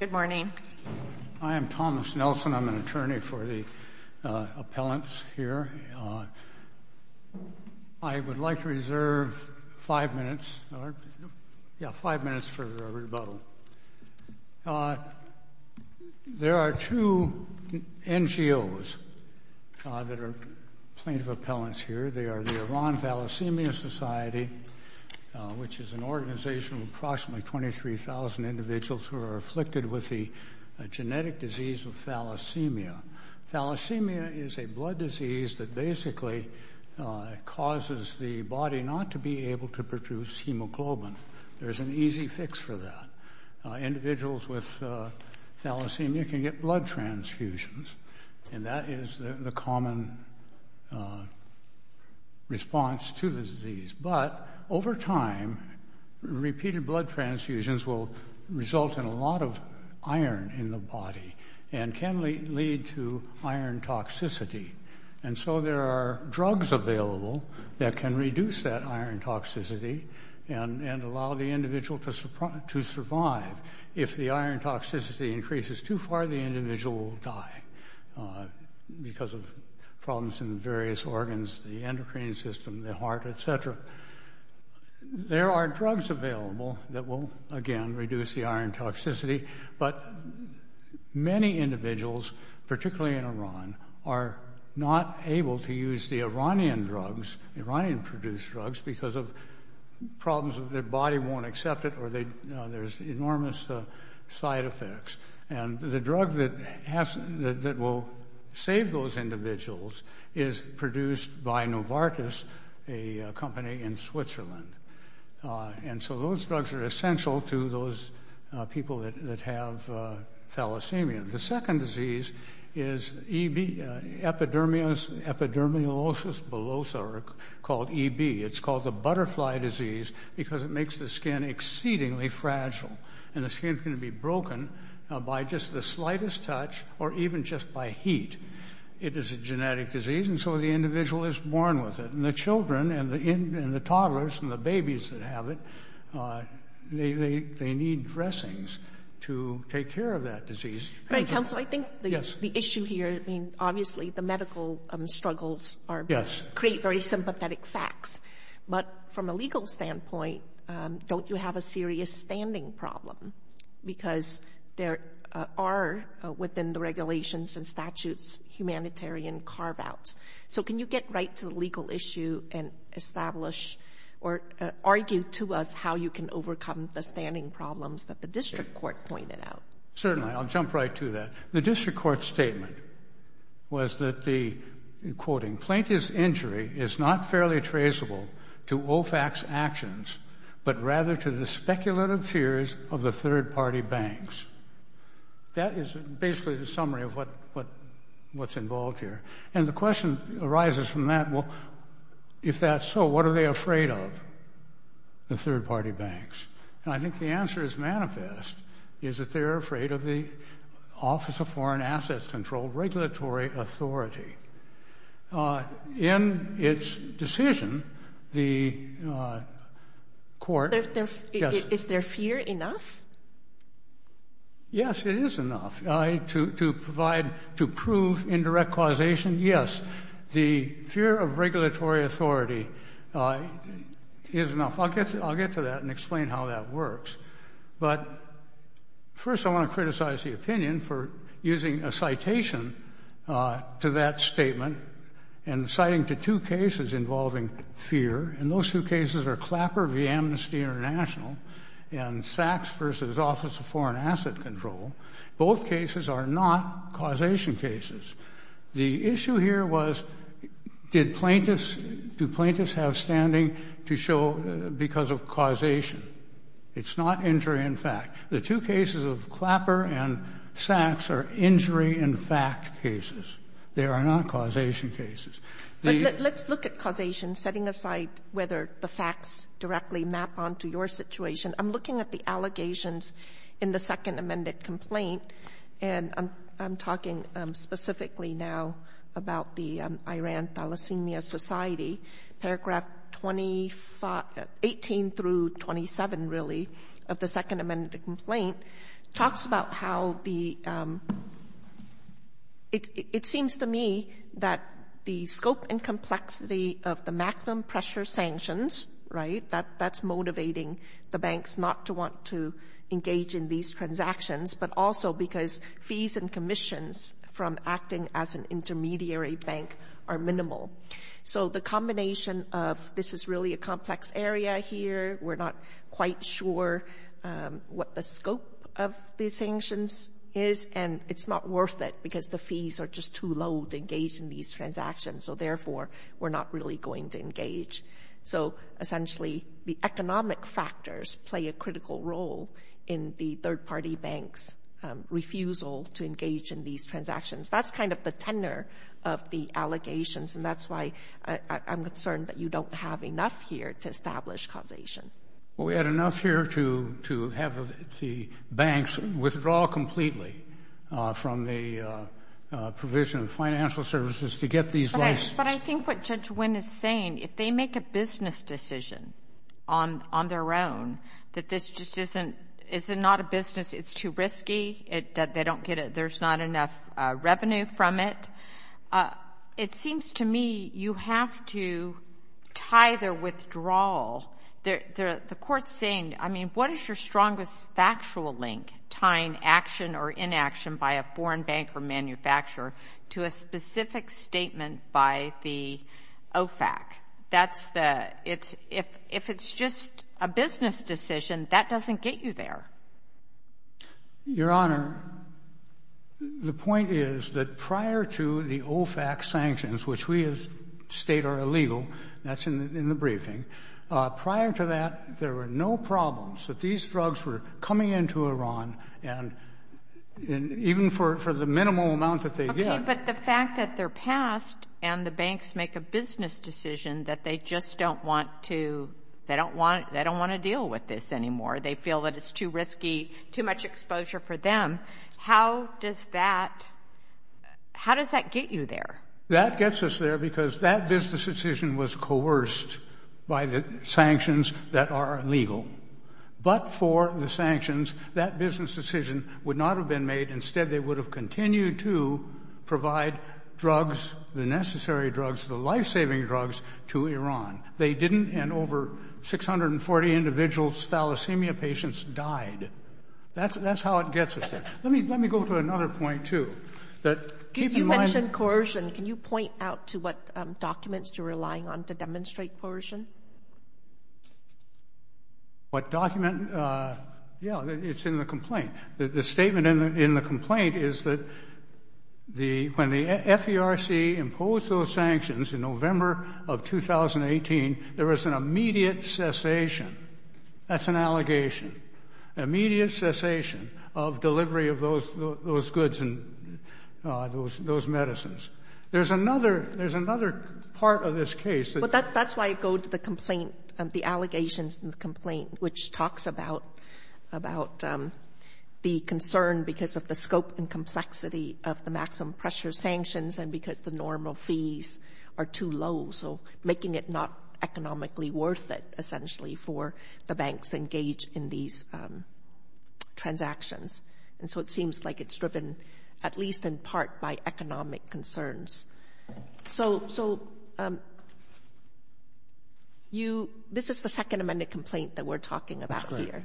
Good morning. I am Thomas Nelson. I'm an attorney for the appellants here. I would like to reserve five minutes for rebuttal. There are two NGOs that are plaintiff appellants here. They are the Iran Thalassemia Society, which is an individuals who are afflicted with the genetic disease of thalassemia. Thalassemia is a blood disease that basically causes the body not to be able to produce hemoglobin. There's an easy fix for that. Individuals with thalassemia can get blood transfusions, and that is the common response to the disease. But over time, repeated blood transfusions will result in a lot of iron in the body and can lead to iron toxicity. And so there are drugs available that can reduce that iron toxicity and allow the individual to survive. If the iron toxicity increases too far, the various organs, the endocrine system, the heart, etc. There are drugs available that will, again, reduce the iron toxicity, but many individuals, particularly in Iran, are not able to use the Iranian drugs, Iranian-produced drugs, because of problems that their body won't accept it or there's enormous side effects. And the drug that will save those individuals is produced by Novartis, a company in Switzerland. And so those drugs are essential to those people that have thalassemia. The second disease is epidermolosis bullosa, or called EB. It's called the butterfly disease because it makes the skin exceedingly fragile, and the skin can be broken by just the slightest touch or even just by heat. It is a genetic disease, and so the individual is born with it. And the children and the toddlers and the babies that have it, they need dressings to take care of that disease. Right, counsel. I think the issue here, I mean, obviously, the medical struggles create very don't you have a serious standing problem? Because there are, within the regulations and statutes, humanitarian carve-outs. So can you get right to the legal issue and establish, or argue to us, how you can overcome the standing problems that the district court pointed out? Certainly, I'll jump right to that. The district court statement was that the, quoting, plaintiff's injury is not fairly traceable to OFAC's actions, but rather to the speculative fears of the third-party banks. That is basically the summary of what's involved here. And the question arises from that, well, if that's so, what are they afraid of, the third-party banks? And I think the answer is manifest, is that they're afraid of the Office of Foreign Assets Control Regulatory Authority. In its decision, the court... Is their fear enough? Yes, it is enough to provide, to prove indirect causation. Yes, the fear of regulatory authority is enough. I'll get to that and explain how that works. But first, I want to criticize the opinion for using a citation to that statement, and citing the two cases involving fear. And those two cases are Clapper v. Amnesty International and Sachs v. Office of Foreign Asset Control. Both cases are not causation cases. The issue here was, do plaintiffs have standing to show because of causation? It's not injury in fact. The two cases of Clapper and Sachs are injury in fact cases. They are not causation cases. Let's look at causation, setting aside whether the facts directly map onto your situation. I'm looking at the allegations in the second amended complaint, and I'm talking specifically now about the Iran Thalassemia Society, paragraph 18 through 27, really, of the second amended complaint, talks about how the... It seems to me that the scope and complexity of the maximum pressure sanctions, right, that's motivating the banks not to want to engage in these transactions, but also because fees and of this is really a complex area here. We're not quite sure what the scope of the sanctions is, and it's not worth it because the fees are just too low to engage in these transactions. So therefore, we're not really going to engage. So essentially, the economic factors play a critical role in the third party banks' refusal to engage in these transactions. That's kind of the tenor of the allegations, and that's why I'm concerned that you don't have enough here to establish causation. Well, we had enough here to have the banks withdraw completely from the provision of financial services to get these licenses. But I think what Judge Wynn is saying, if they make a business decision on their own, that this just isn't, it's not a business, it's too risky, they don't get it, there's not enough revenue from it. It seems to me you have to tie their withdrawal. The court's saying, I mean, what is your strongest factual link, tying action or inaction by a foreign bank or manufacturer to a specific statement by the OFAC? If it's just a business decision, that doesn't get you there. Your Honor, the point is that prior to the OFAC sanctions, which we as a State are illegal, that's in the briefing, prior to that, there were no problems that these drugs were coming into Iran, and even for the minimal amount that they get. Okay. But the fact that they're passed and the banks make a business decision that they just don't want to, they don't want to deal with this anymore, they feel that it's too risky, too much exposure for them. How does that, how does that get you there? That gets us there because that business decision was coerced by the sanctions that are illegal. But for the sanctions, that business decision would not have been made. Instead, they would have continued to provide drugs, the necessary drugs, the life-saving drugs to Iran. They didn't, and over 640 individuals, thalassemia patients died. That's how it gets us there. Let me go to another point, too. You mentioned coercion. Can you point out to what documents you're relying on to demonstrate coercion? What document? Yeah, it's in the complaint. The statement in the complaint is that when the FERC imposed those sanctions in November of 2018, there was an immediate cessation. That's an allegation. Immediate cessation of delivery of those goods and those medicines. There's another part of this case. That's why I go to the complaint, the allegations in the complaint, which talks about the concern because of the scope and complexity of the pressure sanctions and because the normal fees are too low, making it not economically worth it, essentially, for the banks engaged in these transactions. It seems like it's driven, at least in part, by economic concerns. This is the second amended complaint that we're talking about here.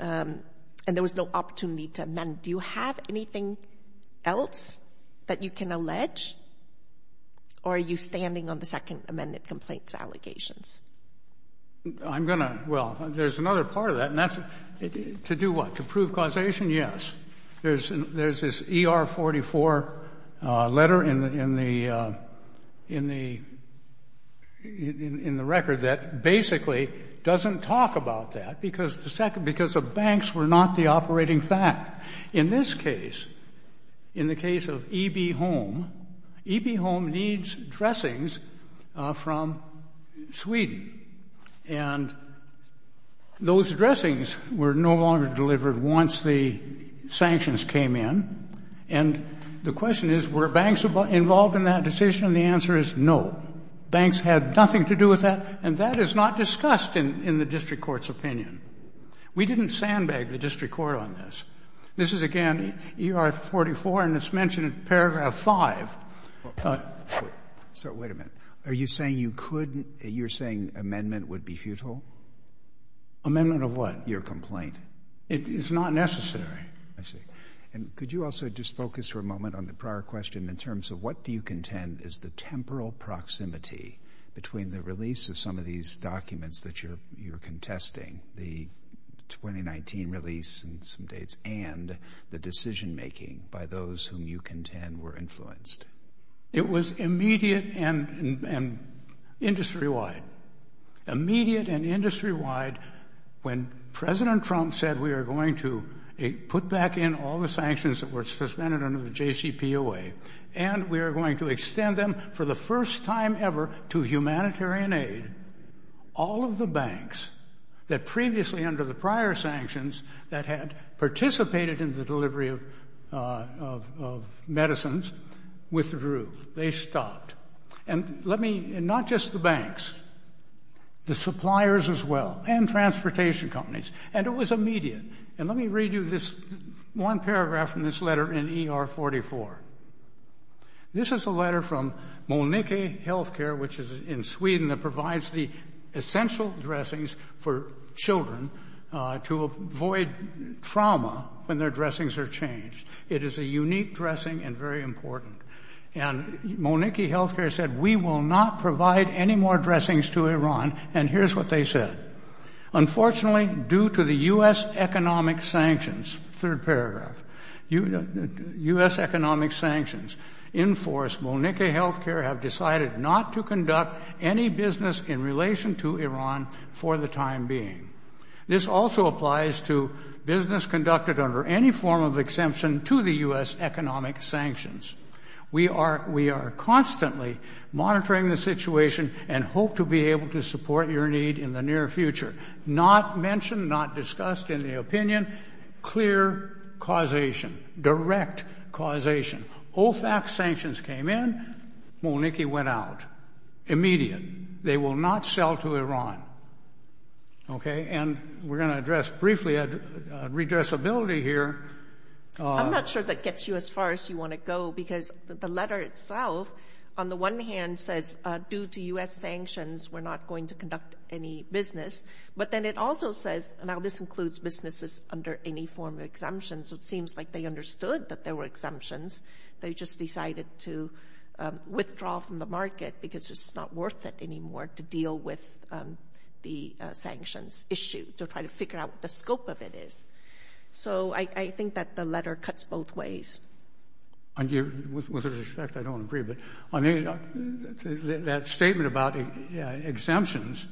There was no opportunity to amend. Do you have anything else that you can allege, or are you standing on the second amended complaint's allegations? There's another part of that. To do what? To prove causation? Yes. There's this ER44 letter in the record that basically doesn't talk about that because the banks were not the operating fact. In this case, in the case of EB Home, EB Home needs dressings from Sweden. And those dressings were no longer delivered once the sanctions came in. And the question is, were banks involved in that decision? And the answer is no. Banks had nothing to do with that, and that is not discussed in the district court's opinion. We didn't sandbag the district court on this. This is again ER44, and it's mentioned in paragraph 5. So wait a minute. Are you saying you could — you're saying amendment would be futile? Amendment of what? Your complaint. It's not necessary. I see. And could you also just focus for a moment on the prior question in terms of what do you contend is the temporal proximity between the release of some of these documents that you're contesting, the 2019 release and some dates, and the decision-making by those whom you contend were influenced? It was immediate and industry-wide. Immediate and industry-wide when President Trump said we are going to put back in all the sanctions that were suspended under the JCPOA, and we are going to extend them for the first time ever to humanitarian aid, all of the banks that previously under the prior sanctions that had participated in the delivery of medicines withdrew. They stopped. And let me — and not just the banks, the suppliers as well, and transportation companies. And it was immediate. And let me read you this one paragraph from this letter in ER44. This is a letter from Moniki Healthcare, which is in Sweden, that provides the essential dressings for children to avoid trauma when their dressings are changed. It is a unique dressing and very important. And Moniki Healthcare said, we will not provide any more dressings to Iran. And here's what they said. Unfortunately, due to the U.S. economic sanctions — third paragraph — U.S. economic sanctions in force, Moniki Healthcare have decided not to conduct any business in relation to Iran for the time being. This also applies to business conducted under any form of exemption to the U.S. economic sanctions. We are constantly monitoring the situation and hope to be able to support your need in the near future. Not mentioned, not discussed in the opinion. Clear causation, direct causation. OFAC sanctions came in. Moniki went out. Immediate. They will not sell to Iran. OK? And we're going to address briefly redressability here. I'm not sure that gets you as far as you want to go, because the letter itself, on the one hand, says, due to U.S. sanctions, we're not going to conduct any business. But then it also says, now this includes businesses under any form of exemption. So it seems like they understood that there were exemptions. They just decided to withdraw from the market because it's not worth it anymore to deal with the sanctions issue, to try to figure out what the scope of it is. So I think that the letter cuts both ways. And with respect, I don't agree. But I mean, that statement about exemptions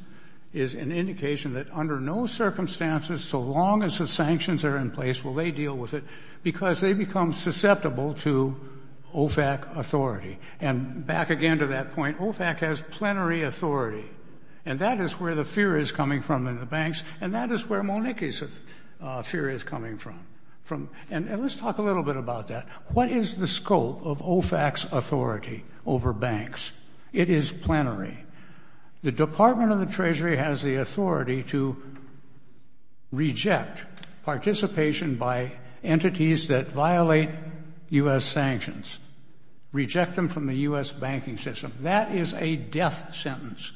is an indication that under no circumstances, so long as the sanctions are in place, will they deal with it? Because they become susceptible to OFAC authority. And back again to that point, OFAC has plenary authority. And that is where the fear is coming from in the banks. And that is where Moniki's fear is coming from. And let's talk a little bit about that. What is the scope of OFAC's authority over banks? It is plenary. The Department of the Treasury has the authority to reject participation by entities that violate U.S. sanctions, reject them from the U.S. banking system. That is a death sentence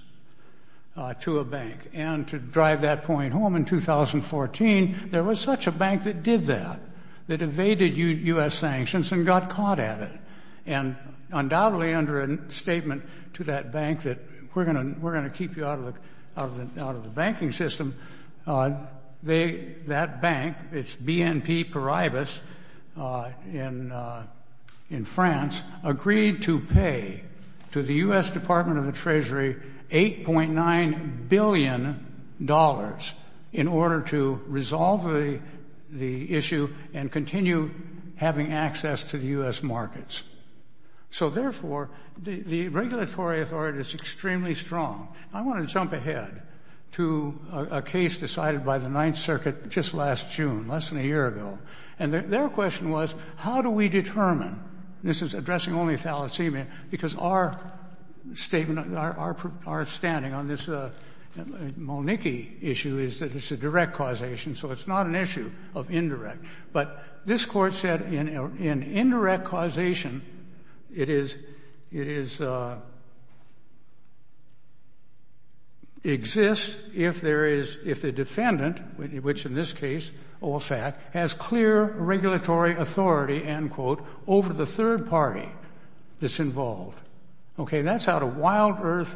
to a bank. And to drive that point home, in 2014, there was such a bank that did that, that evaded U.S. sanctions and got caught at it. And undoubtedly under a statement to that bank that we're going to keep you out of the banking system, that bank, it's BNP Paribas in France, agreed to pay to the U.S. Department of in order to resolve the issue and continue having access to the U.S. markets. So therefore, the regulatory authority is extremely strong. I want to jump ahead to a case decided by the Ninth Circuit just last June, less than a year ago. And their question was, how do we determine, this is addressing only thalassemia, because our statement, our standing on this Malnicki issue is that it's a direct causation, so it's not an issue of indirect. But this court said in indirect causation, it is, it is, exists if there is, if the defendant, which in this case, Olsak, has clear regulatory authority, end quote, over the third party that's involved. Okay, that's out of Wild Earth,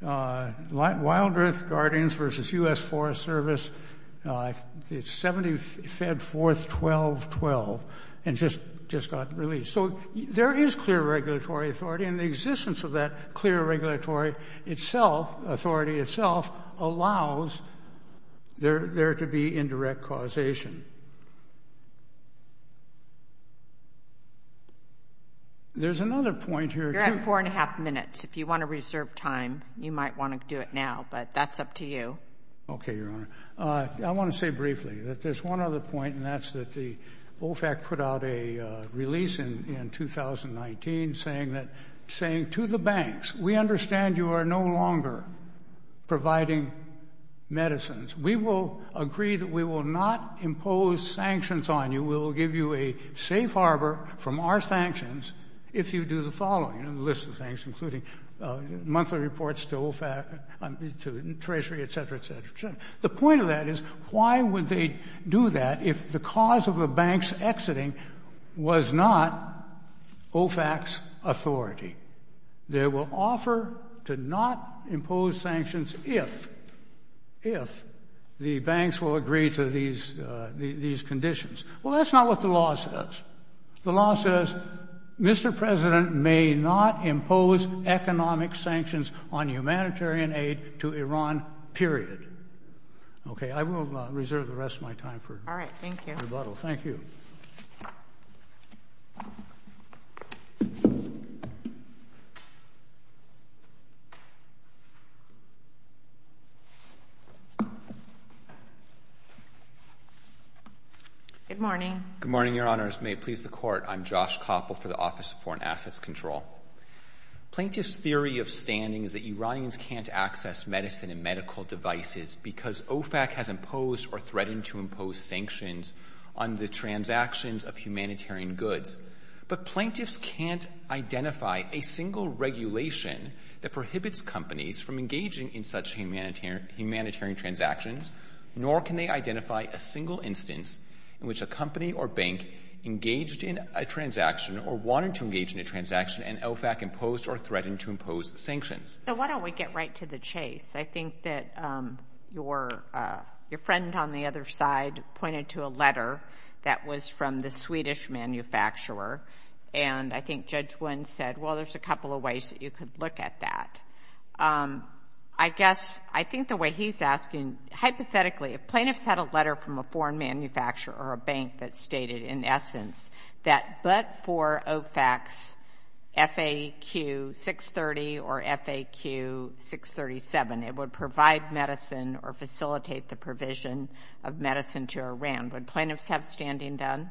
Wild Earth Guardians versus U.S. Forest Service, it's 74th 1212, and just, just got released. So there is clear regulatory authority, and the existence of that clear regulatory itself, authority itself, allows there to be indirect causation. There's another point here. You're at four and a half minutes. If you want to reserve time, you might want to do it now, but that's up to you. Okay, Your Honor. I want to say briefly that there's one other point, and that's that the Olsak put out a release in 2019 saying that, saying to the banks, we understand you are no longer providing medicines. We will agree that we will not impose sanctions on you. We'll give you a safe harbor from our sanctions if you do the following, and the list of things, including monthly reports to Olsak, to Treasury, et cetera, et cetera, et cetera. The point of that is, why would they do that if the cause of the bank's authority? They will offer to not impose sanctions if, if the banks will agree to these, these conditions. Well, that's not what the law says. The law says, Mr. President may not impose economic sanctions on humanitarian aid to Iran, period. Okay, I will reserve the rest of my time for rebuttal. Thank you. Good morning. Good morning, Your Honors. May it please the Court. I'm Josh Koppel for the Office of Foreign Assets Control. Plaintiff's theory of standing is that Iranians can't access medicine and medical devices because OFAC has imposed or threatened to impose sanctions on the transactions of humanitarian goods. But plaintiffs can't identify a single regulation that prohibits companies from engaging in such humanitarian transactions, nor can they identify a single instance in which a company or bank engaged in a transaction or wanted to engage in a transaction, and OFAC imposed or threatened to impose sanctions. So why don't we get right to the chase? I think that your, your friend on the other side pointed to a letter that was from the Swedish manufacturer, and I think Judge Wynn said, well, there's a couple of ways that you could look at that. I guess, I think the way he's asking, hypothetically, if plaintiffs had a letter from a foreign manufacturer or a bank that stated, in essence, that but for OFAC's FAQ 630 or FAQ 637, it would provide medicine or facilitate the provision of medicine to Iran, would plaintiffs have standing done?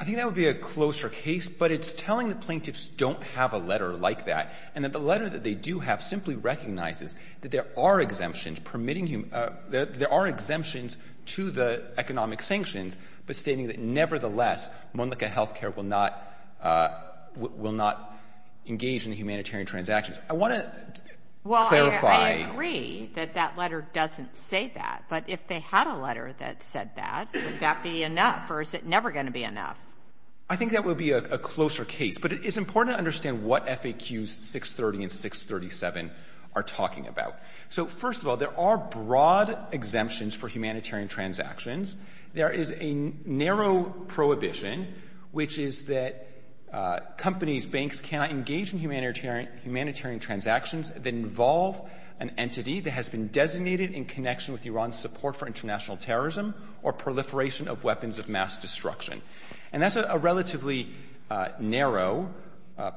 I think that would be a closer case, but it's telling the plaintiffs don't have a letter like that, and that the letter that they do have simply recognizes that there are exemptions permitting human, there are exemptions to the economic sanctions, but stating that nevertheless, Monlika Healthcare will not, will not engage in humanitarian transactions. I want to clarify. Well, I agree that that letter doesn't say that, but if they had a letter that said that, would that be enough, or is it never going to be enough? I think that would be a closer case, but it's important to understand what FAQs 630 and 637 are talking about. So first of all, there are broad exemptions for humanitarian transactions. There is a narrow prohibition, which is that companies, banks cannot engage in humanitarian transactions that involve an entity that has been designated in connection with Iran's support for international terrorism or proliferation of weapons of mass destruction. And that's a relatively narrow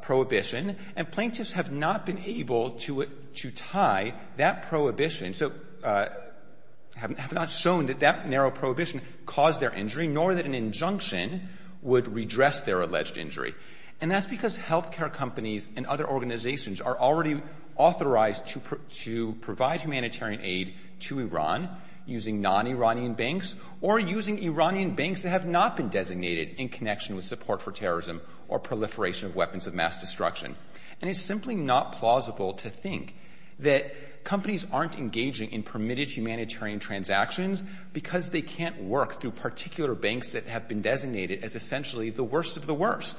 prohibition, and plaintiffs have not been able to tie that prohibition, so have not shown that that narrow prohibition caused their injury, nor that an injunction would redress their alleged injury. And that's because healthcare companies and other organizations are already authorized to provide humanitarian aid to Iran using non-Iranian banks or using Iranian banks that have not been designated in connection with support for terrorism or proliferation of weapons of mass destruction. And it's simply not plausible to think that companies aren't engaging in permitted humanitarian transactions because they can't work through particular banks that have been designated as essentially the worst of the worst,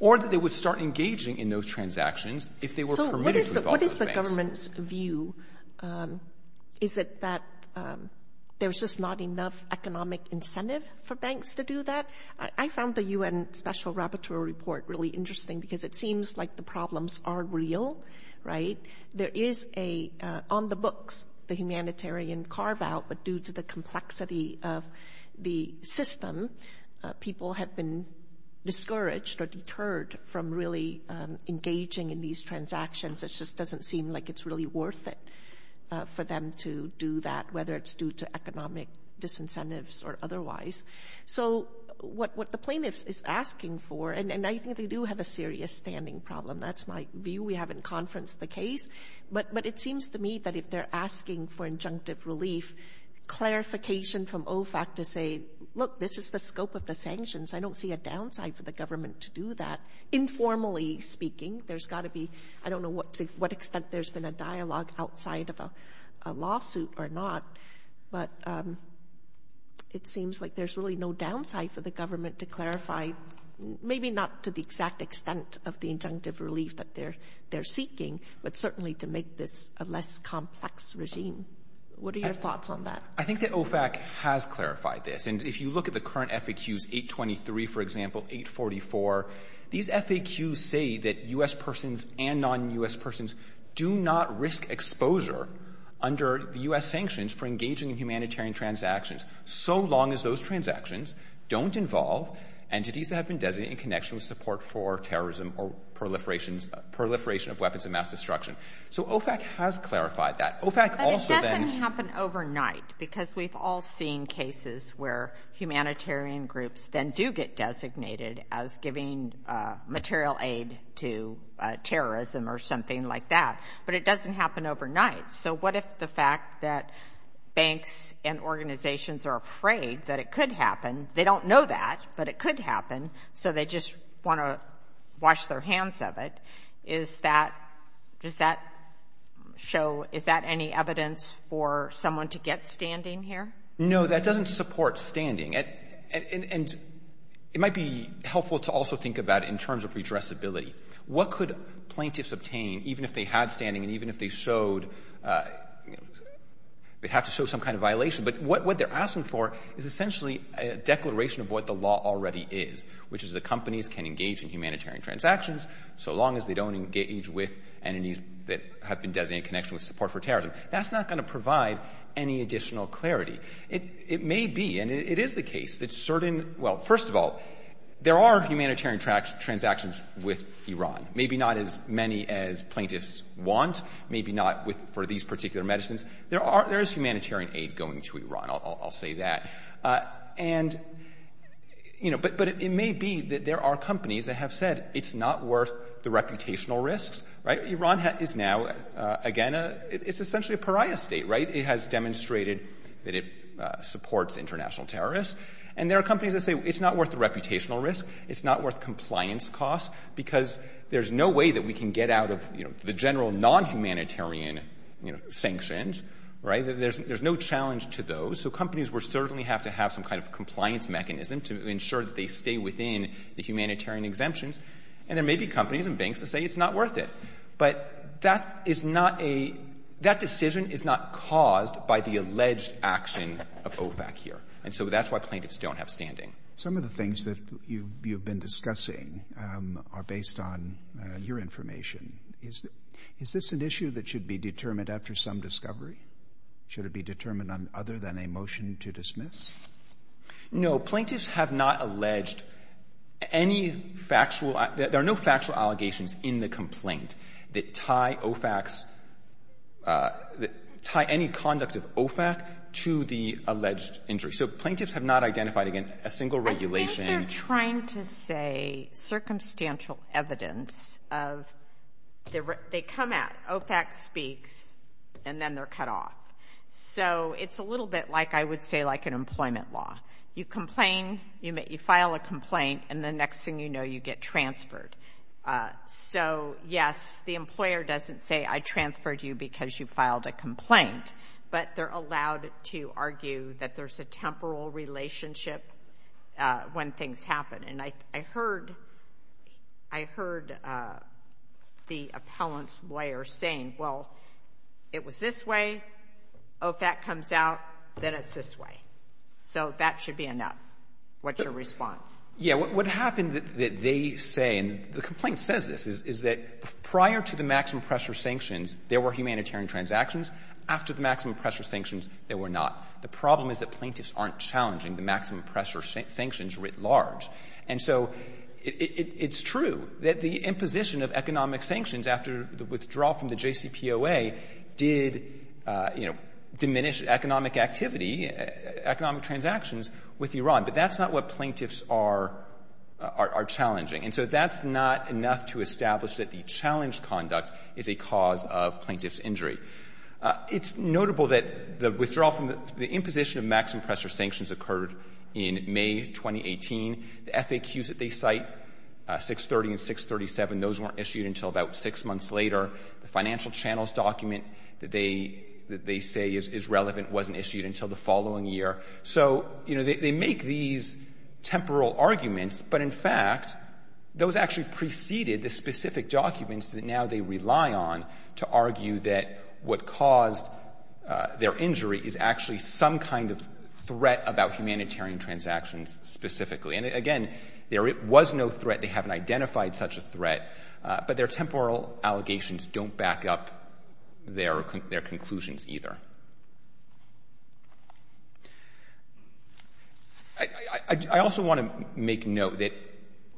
or that they would start engaging in those transactions if they were permitted with all those banks. Is it that there's just not enough economic incentive for banks to do that? I found the UN Special Rapporteur report really interesting because it seems like the problems are real, right? There is a, on the books, the humanitarian carve-out, but due to the complexity of the system, people have been discouraged or deterred from really engaging in these transactions. It doesn't seem like it's really worth it for them to do that, whether it's due to economic disincentives or otherwise. So what the plaintiff is asking for, and I think they do have a serious standing problem. That's my view. We haven't conferenced the case. But it seems to me that if they're asking for injunctive relief, clarification from OFAC to say, look, this is the scope of the sanctions. I don't see a downside for the government to do that. Informally speaking, there's got to be, I don't know what extent there's been a dialogue outside of a lawsuit or not, but it seems like there's really no downside for the government to clarify, maybe not to the exact extent of the injunctive relief that they're seeking, but certainly to make this a less complex regime. What are your thoughts on that? I think that OFAC has clarified this. And if you look at the current FAQs, 823, for example, 844, these FAQs say that U.S. persons and non-U.S. persons do not risk exposure under the U.S. sanctions for engaging in humanitarian transactions, so long as those transactions don't involve entities that have been designated in connection with support for terrorism or proliferation of weapons of mass destruction. So OFAC has clarified that. OFAC also then — where humanitarian groups then do get designated as giving material aid to terrorism or something like that, but it doesn't happen overnight. So what if the fact that banks and organizations are afraid that it could happen, they don't know that, but it could happen, so they just want to wash their hands of it. Is that — does that show — is that any evidence for someone to get standing here? No, that doesn't support standing. And it might be helpful to also think about in terms of redressability. What could plaintiffs obtain, even if they had standing and even if they showed — they'd have to show some kind of violation. But what they're asking for is essentially a declaration of what the law already is, which is that companies can engage in humanitarian transactions so long as they don't engage with entities that have been designated in connection with support for terrorism. That's not going to provide any additional clarity. It may be — and it is the case that certain — well, first of all, there are humanitarian transactions with Iran, maybe not as many as plaintiffs want, maybe not with — for these particular medicines. There are — there is humanitarian aid going to Iran. I'll say that. And, you know, but it may be that there are companies that have said it's not worth the reputational risks, right? Iran is now, again, it's essentially a pariah state, right? It has demonstrated that it supports international terrorists. And there are companies that say it's not worth the reputational risk, it's not worth compliance costs, because there's no way that we can get out of, you know, the general non-humanitarian, you know, sanctions, right? There's no challenge to those. So companies will certainly have to have some kind of compliance mechanism to ensure that they stay within the humanitarian exemptions. And there may be companies and banks that say it's not worth it. But that is not a — that decision is not caused by the alleged action of OFAC here. And so that's why plaintiffs don't have standing. Some of the things that you've been discussing are based on your information. Is this an issue that should be determined after some discovery? Should it be determined on other than a motion to dismiss? No. Plaintiffs have not alleged any factual — there are no factual allegations in the complaint that tie OFAC's — that tie any conduct of OFAC to the alleged injury. So plaintiffs have not identified, again, a single regulation — I think they're trying to say circumstantial evidence of — they come out, OFAC speaks, and then they're cut off. So it's a little bit like, I would say, like an employment law. You complain, you file a complaint, and the next thing you know, you get transferred. So, yes, the employer doesn't say, I transferred you because you filed a complaint. But they're allowed to argue that there's a temporal relationship when things happen. And I heard — I heard the appellant's lawyer saying, well, it was this way, OFAC comes out, then it's this way. So that should be enough. What's your response? Yeah. What happened that they say — and the complaint says this — is that prior to the maximum pressure sanctions, there were humanitarian transactions. After the maximum pressure sanctions, there were not. The problem is that plaintiffs aren't challenging the maximum pressure sanctions writ large. And so it's true that the imposition of economic sanctions after the withdrawal from the JCPOA did, you know, diminish economic activity, economic transactions with Iran. But that's not what plaintiffs are challenging. And so that's not enough to establish that the challenge conduct is a cause of plaintiff's injury. It's notable that the withdrawal from the — the imposition of maximum pressure sanctions occurred in May 2018. The FAQs that they cite, 630 and 637, those weren't issued until about six months later. The financial channels document that they say is relevant wasn't issued until the following year. So, you know, they make these temporal arguments. But in fact, those actually preceded the specific documents that now they rely on to argue that what caused their injury is actually some kind of threat about humanitarian transactions specifically. And again, there was no threat. They haven't identified such a threat. But their temporal allegations don't back up their conclusions either. I also want to make note that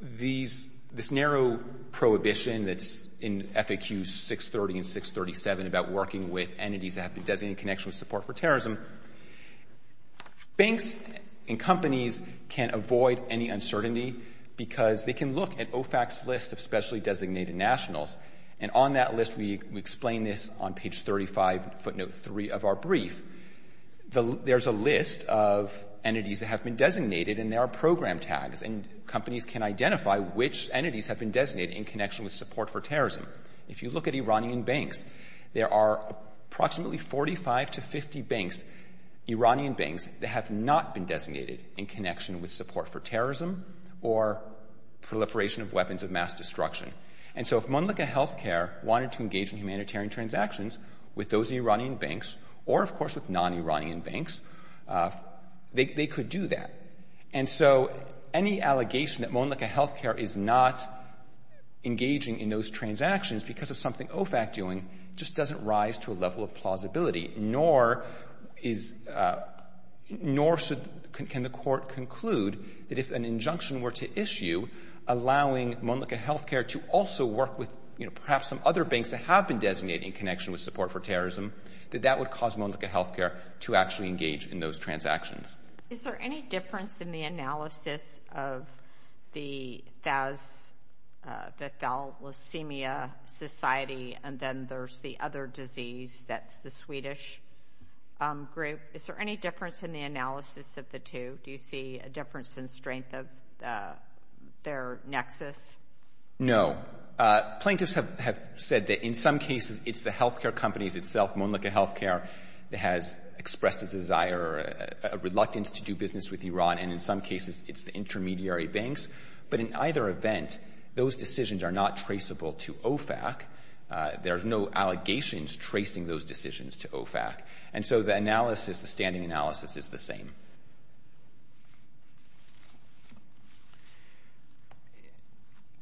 this narrow prohibition that's in FAQs 630 and 637 about working with entities that have been designated in connection with support for terrorism. If you look at OFAC's list of specially designated nationals, and on that list we explain this on page 35, footnote three of our brief, there's a list of entities that have been designated and there are program tags. And companies can identify which entities have been designated in connection with support for terrorism. If you look at Iranian banks, there are approximately 45 to 50 banks, Iranian banks, that have not been designated in connection with support for terrorism or proliferation of weapons of mass destruction. And so if Monlika Healthcare wanted to engage in humanitarian transactions with those Iranian banks, or of course with non-Iranian banks, they could do that. And so any allegation that Monlika Healthcare is not engaging in those transactions because of something OFAC is doing just doesn't rise to a level of plausibility, nor can the court conclude that if an injunction were to issue allowing Monlika Healthcare to also work with perhaps some other banks that have been designated in connection with support for terrorism, that that would cause Monlika Healthcare to actually engage in those transactions. Is there any difference in the analysis of the Thalassemia Society and then there's the other disease that's the Swedish group? Is there any difference in the analysis of the two? Do you see a difference in strength of their nexus? No. Plaintiffs have said that in some cases it's the healthcare companies itself, Monlika Healthcare, that has expressed a desire, a reluctance to do business with Iran, and in some cases it's the intermediary banks. But in either event, those decisions are not traceable to OFAC. There's no allegations tracing those decisions to OFAC. And so the analysis, the standing analysis, is the same.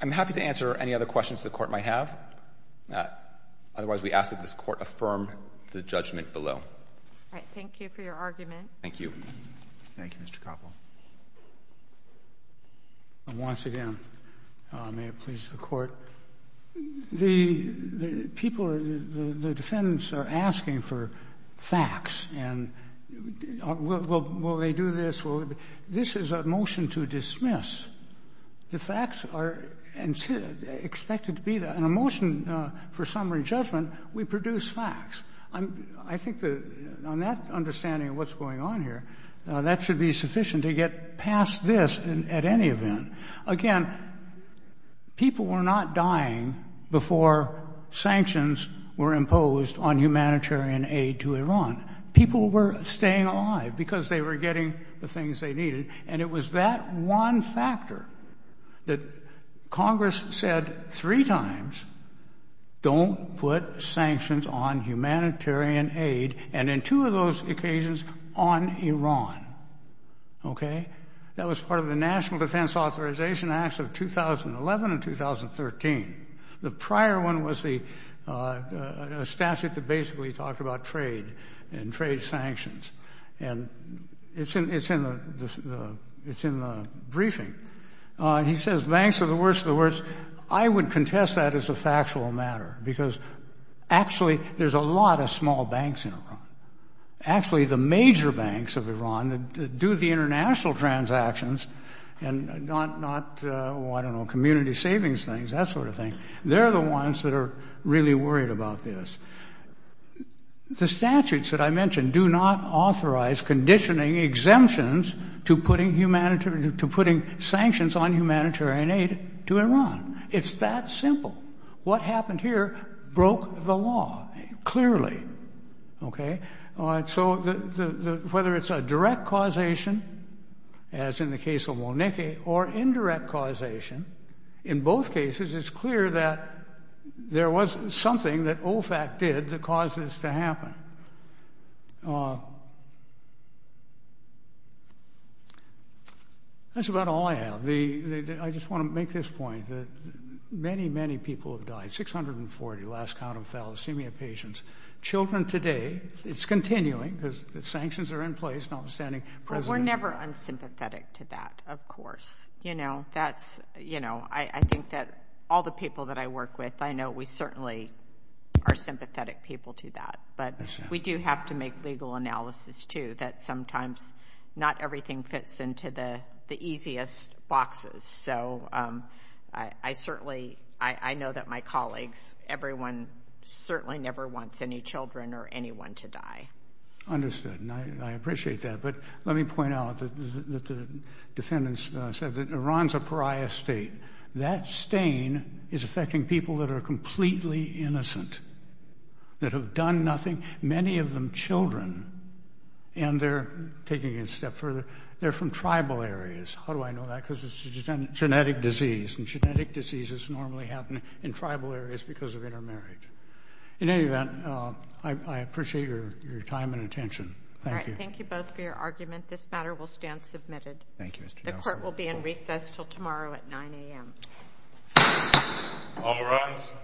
I'm happy to answer any other questions the Court might have. Otherwise, we ask that this Court affirm the judgment below. All right. Thank you for your argument. Thank you. Thank you, Mr. Koppel. Once again, may it please the Court, the people, the defendants are asking for facts, and will they do this? This is a motion to dismiss. The facts are expected to be there. In a motion for summary judgment, we produce facts. I think on that understanding of what's going on here, that should be sufficient to get past this at any event. Again, people were not staying alive because they were getting the things they needed, and it was that one factor that Congress said three times, don't put sanctions on humanitarian aid, and in two of those occasions, on Iran. Okay? That was part of the National Defense Authorization Acts of 2011 and 2013. The prior one was a statute that basically talked about trade and trade sanctions, and it's in the briefing. He says banks are the worst of the worst. I would contest that as a factual matter, because actually, there's a lot of small banks in Iran. Actually, the major banks of Iran do the international transactions, and not, I don't know, community savings things, that sort of thing. They're the ones that are really worried about this. The statutes that I mentioned do not authorize conditioning exemptions to putting sanctions on humanitarian aid to Iran. It's that simple. What happened here broke the law, clearly. Okay? Whether it's a direct causation, as in the case of Monique, or indirect causation, in both cases, it's clear that there was something that OFAC did that caused this to happen. That's about all I have. I just want to make this point that many, many people have died, 640, last count of thalassemia patients. Children today, it's continuing, because sanctions are in place, notwithstanding President- We're never unsympathetic to that, of course. I think that all the people that I work with, I know we certainly are sympathetic people to that, but we do have to make legal analysis, too, that sometimes not everything fits into the easiest boxes. So I certainly, I know that my colleagues, everyone certainly never wants any children or anyone to die. Understood, and I appreciate that, but let me point out that the defendants said that Iran's a pariah state. That stain is affecting people that are completely innocent, that have done step further. They're from tribal areas. How do I know that? Because it's a genetic disease, and genetic diseases normally happen in tribal areas because of intermarriage. In any event, I appreciate your time and attention. Thank you. Thank you both for your argument. This matter will stand submitted. Thank you, Mr. Nelson. The court will be in recess until tomorrow at 9 a.m. All rise.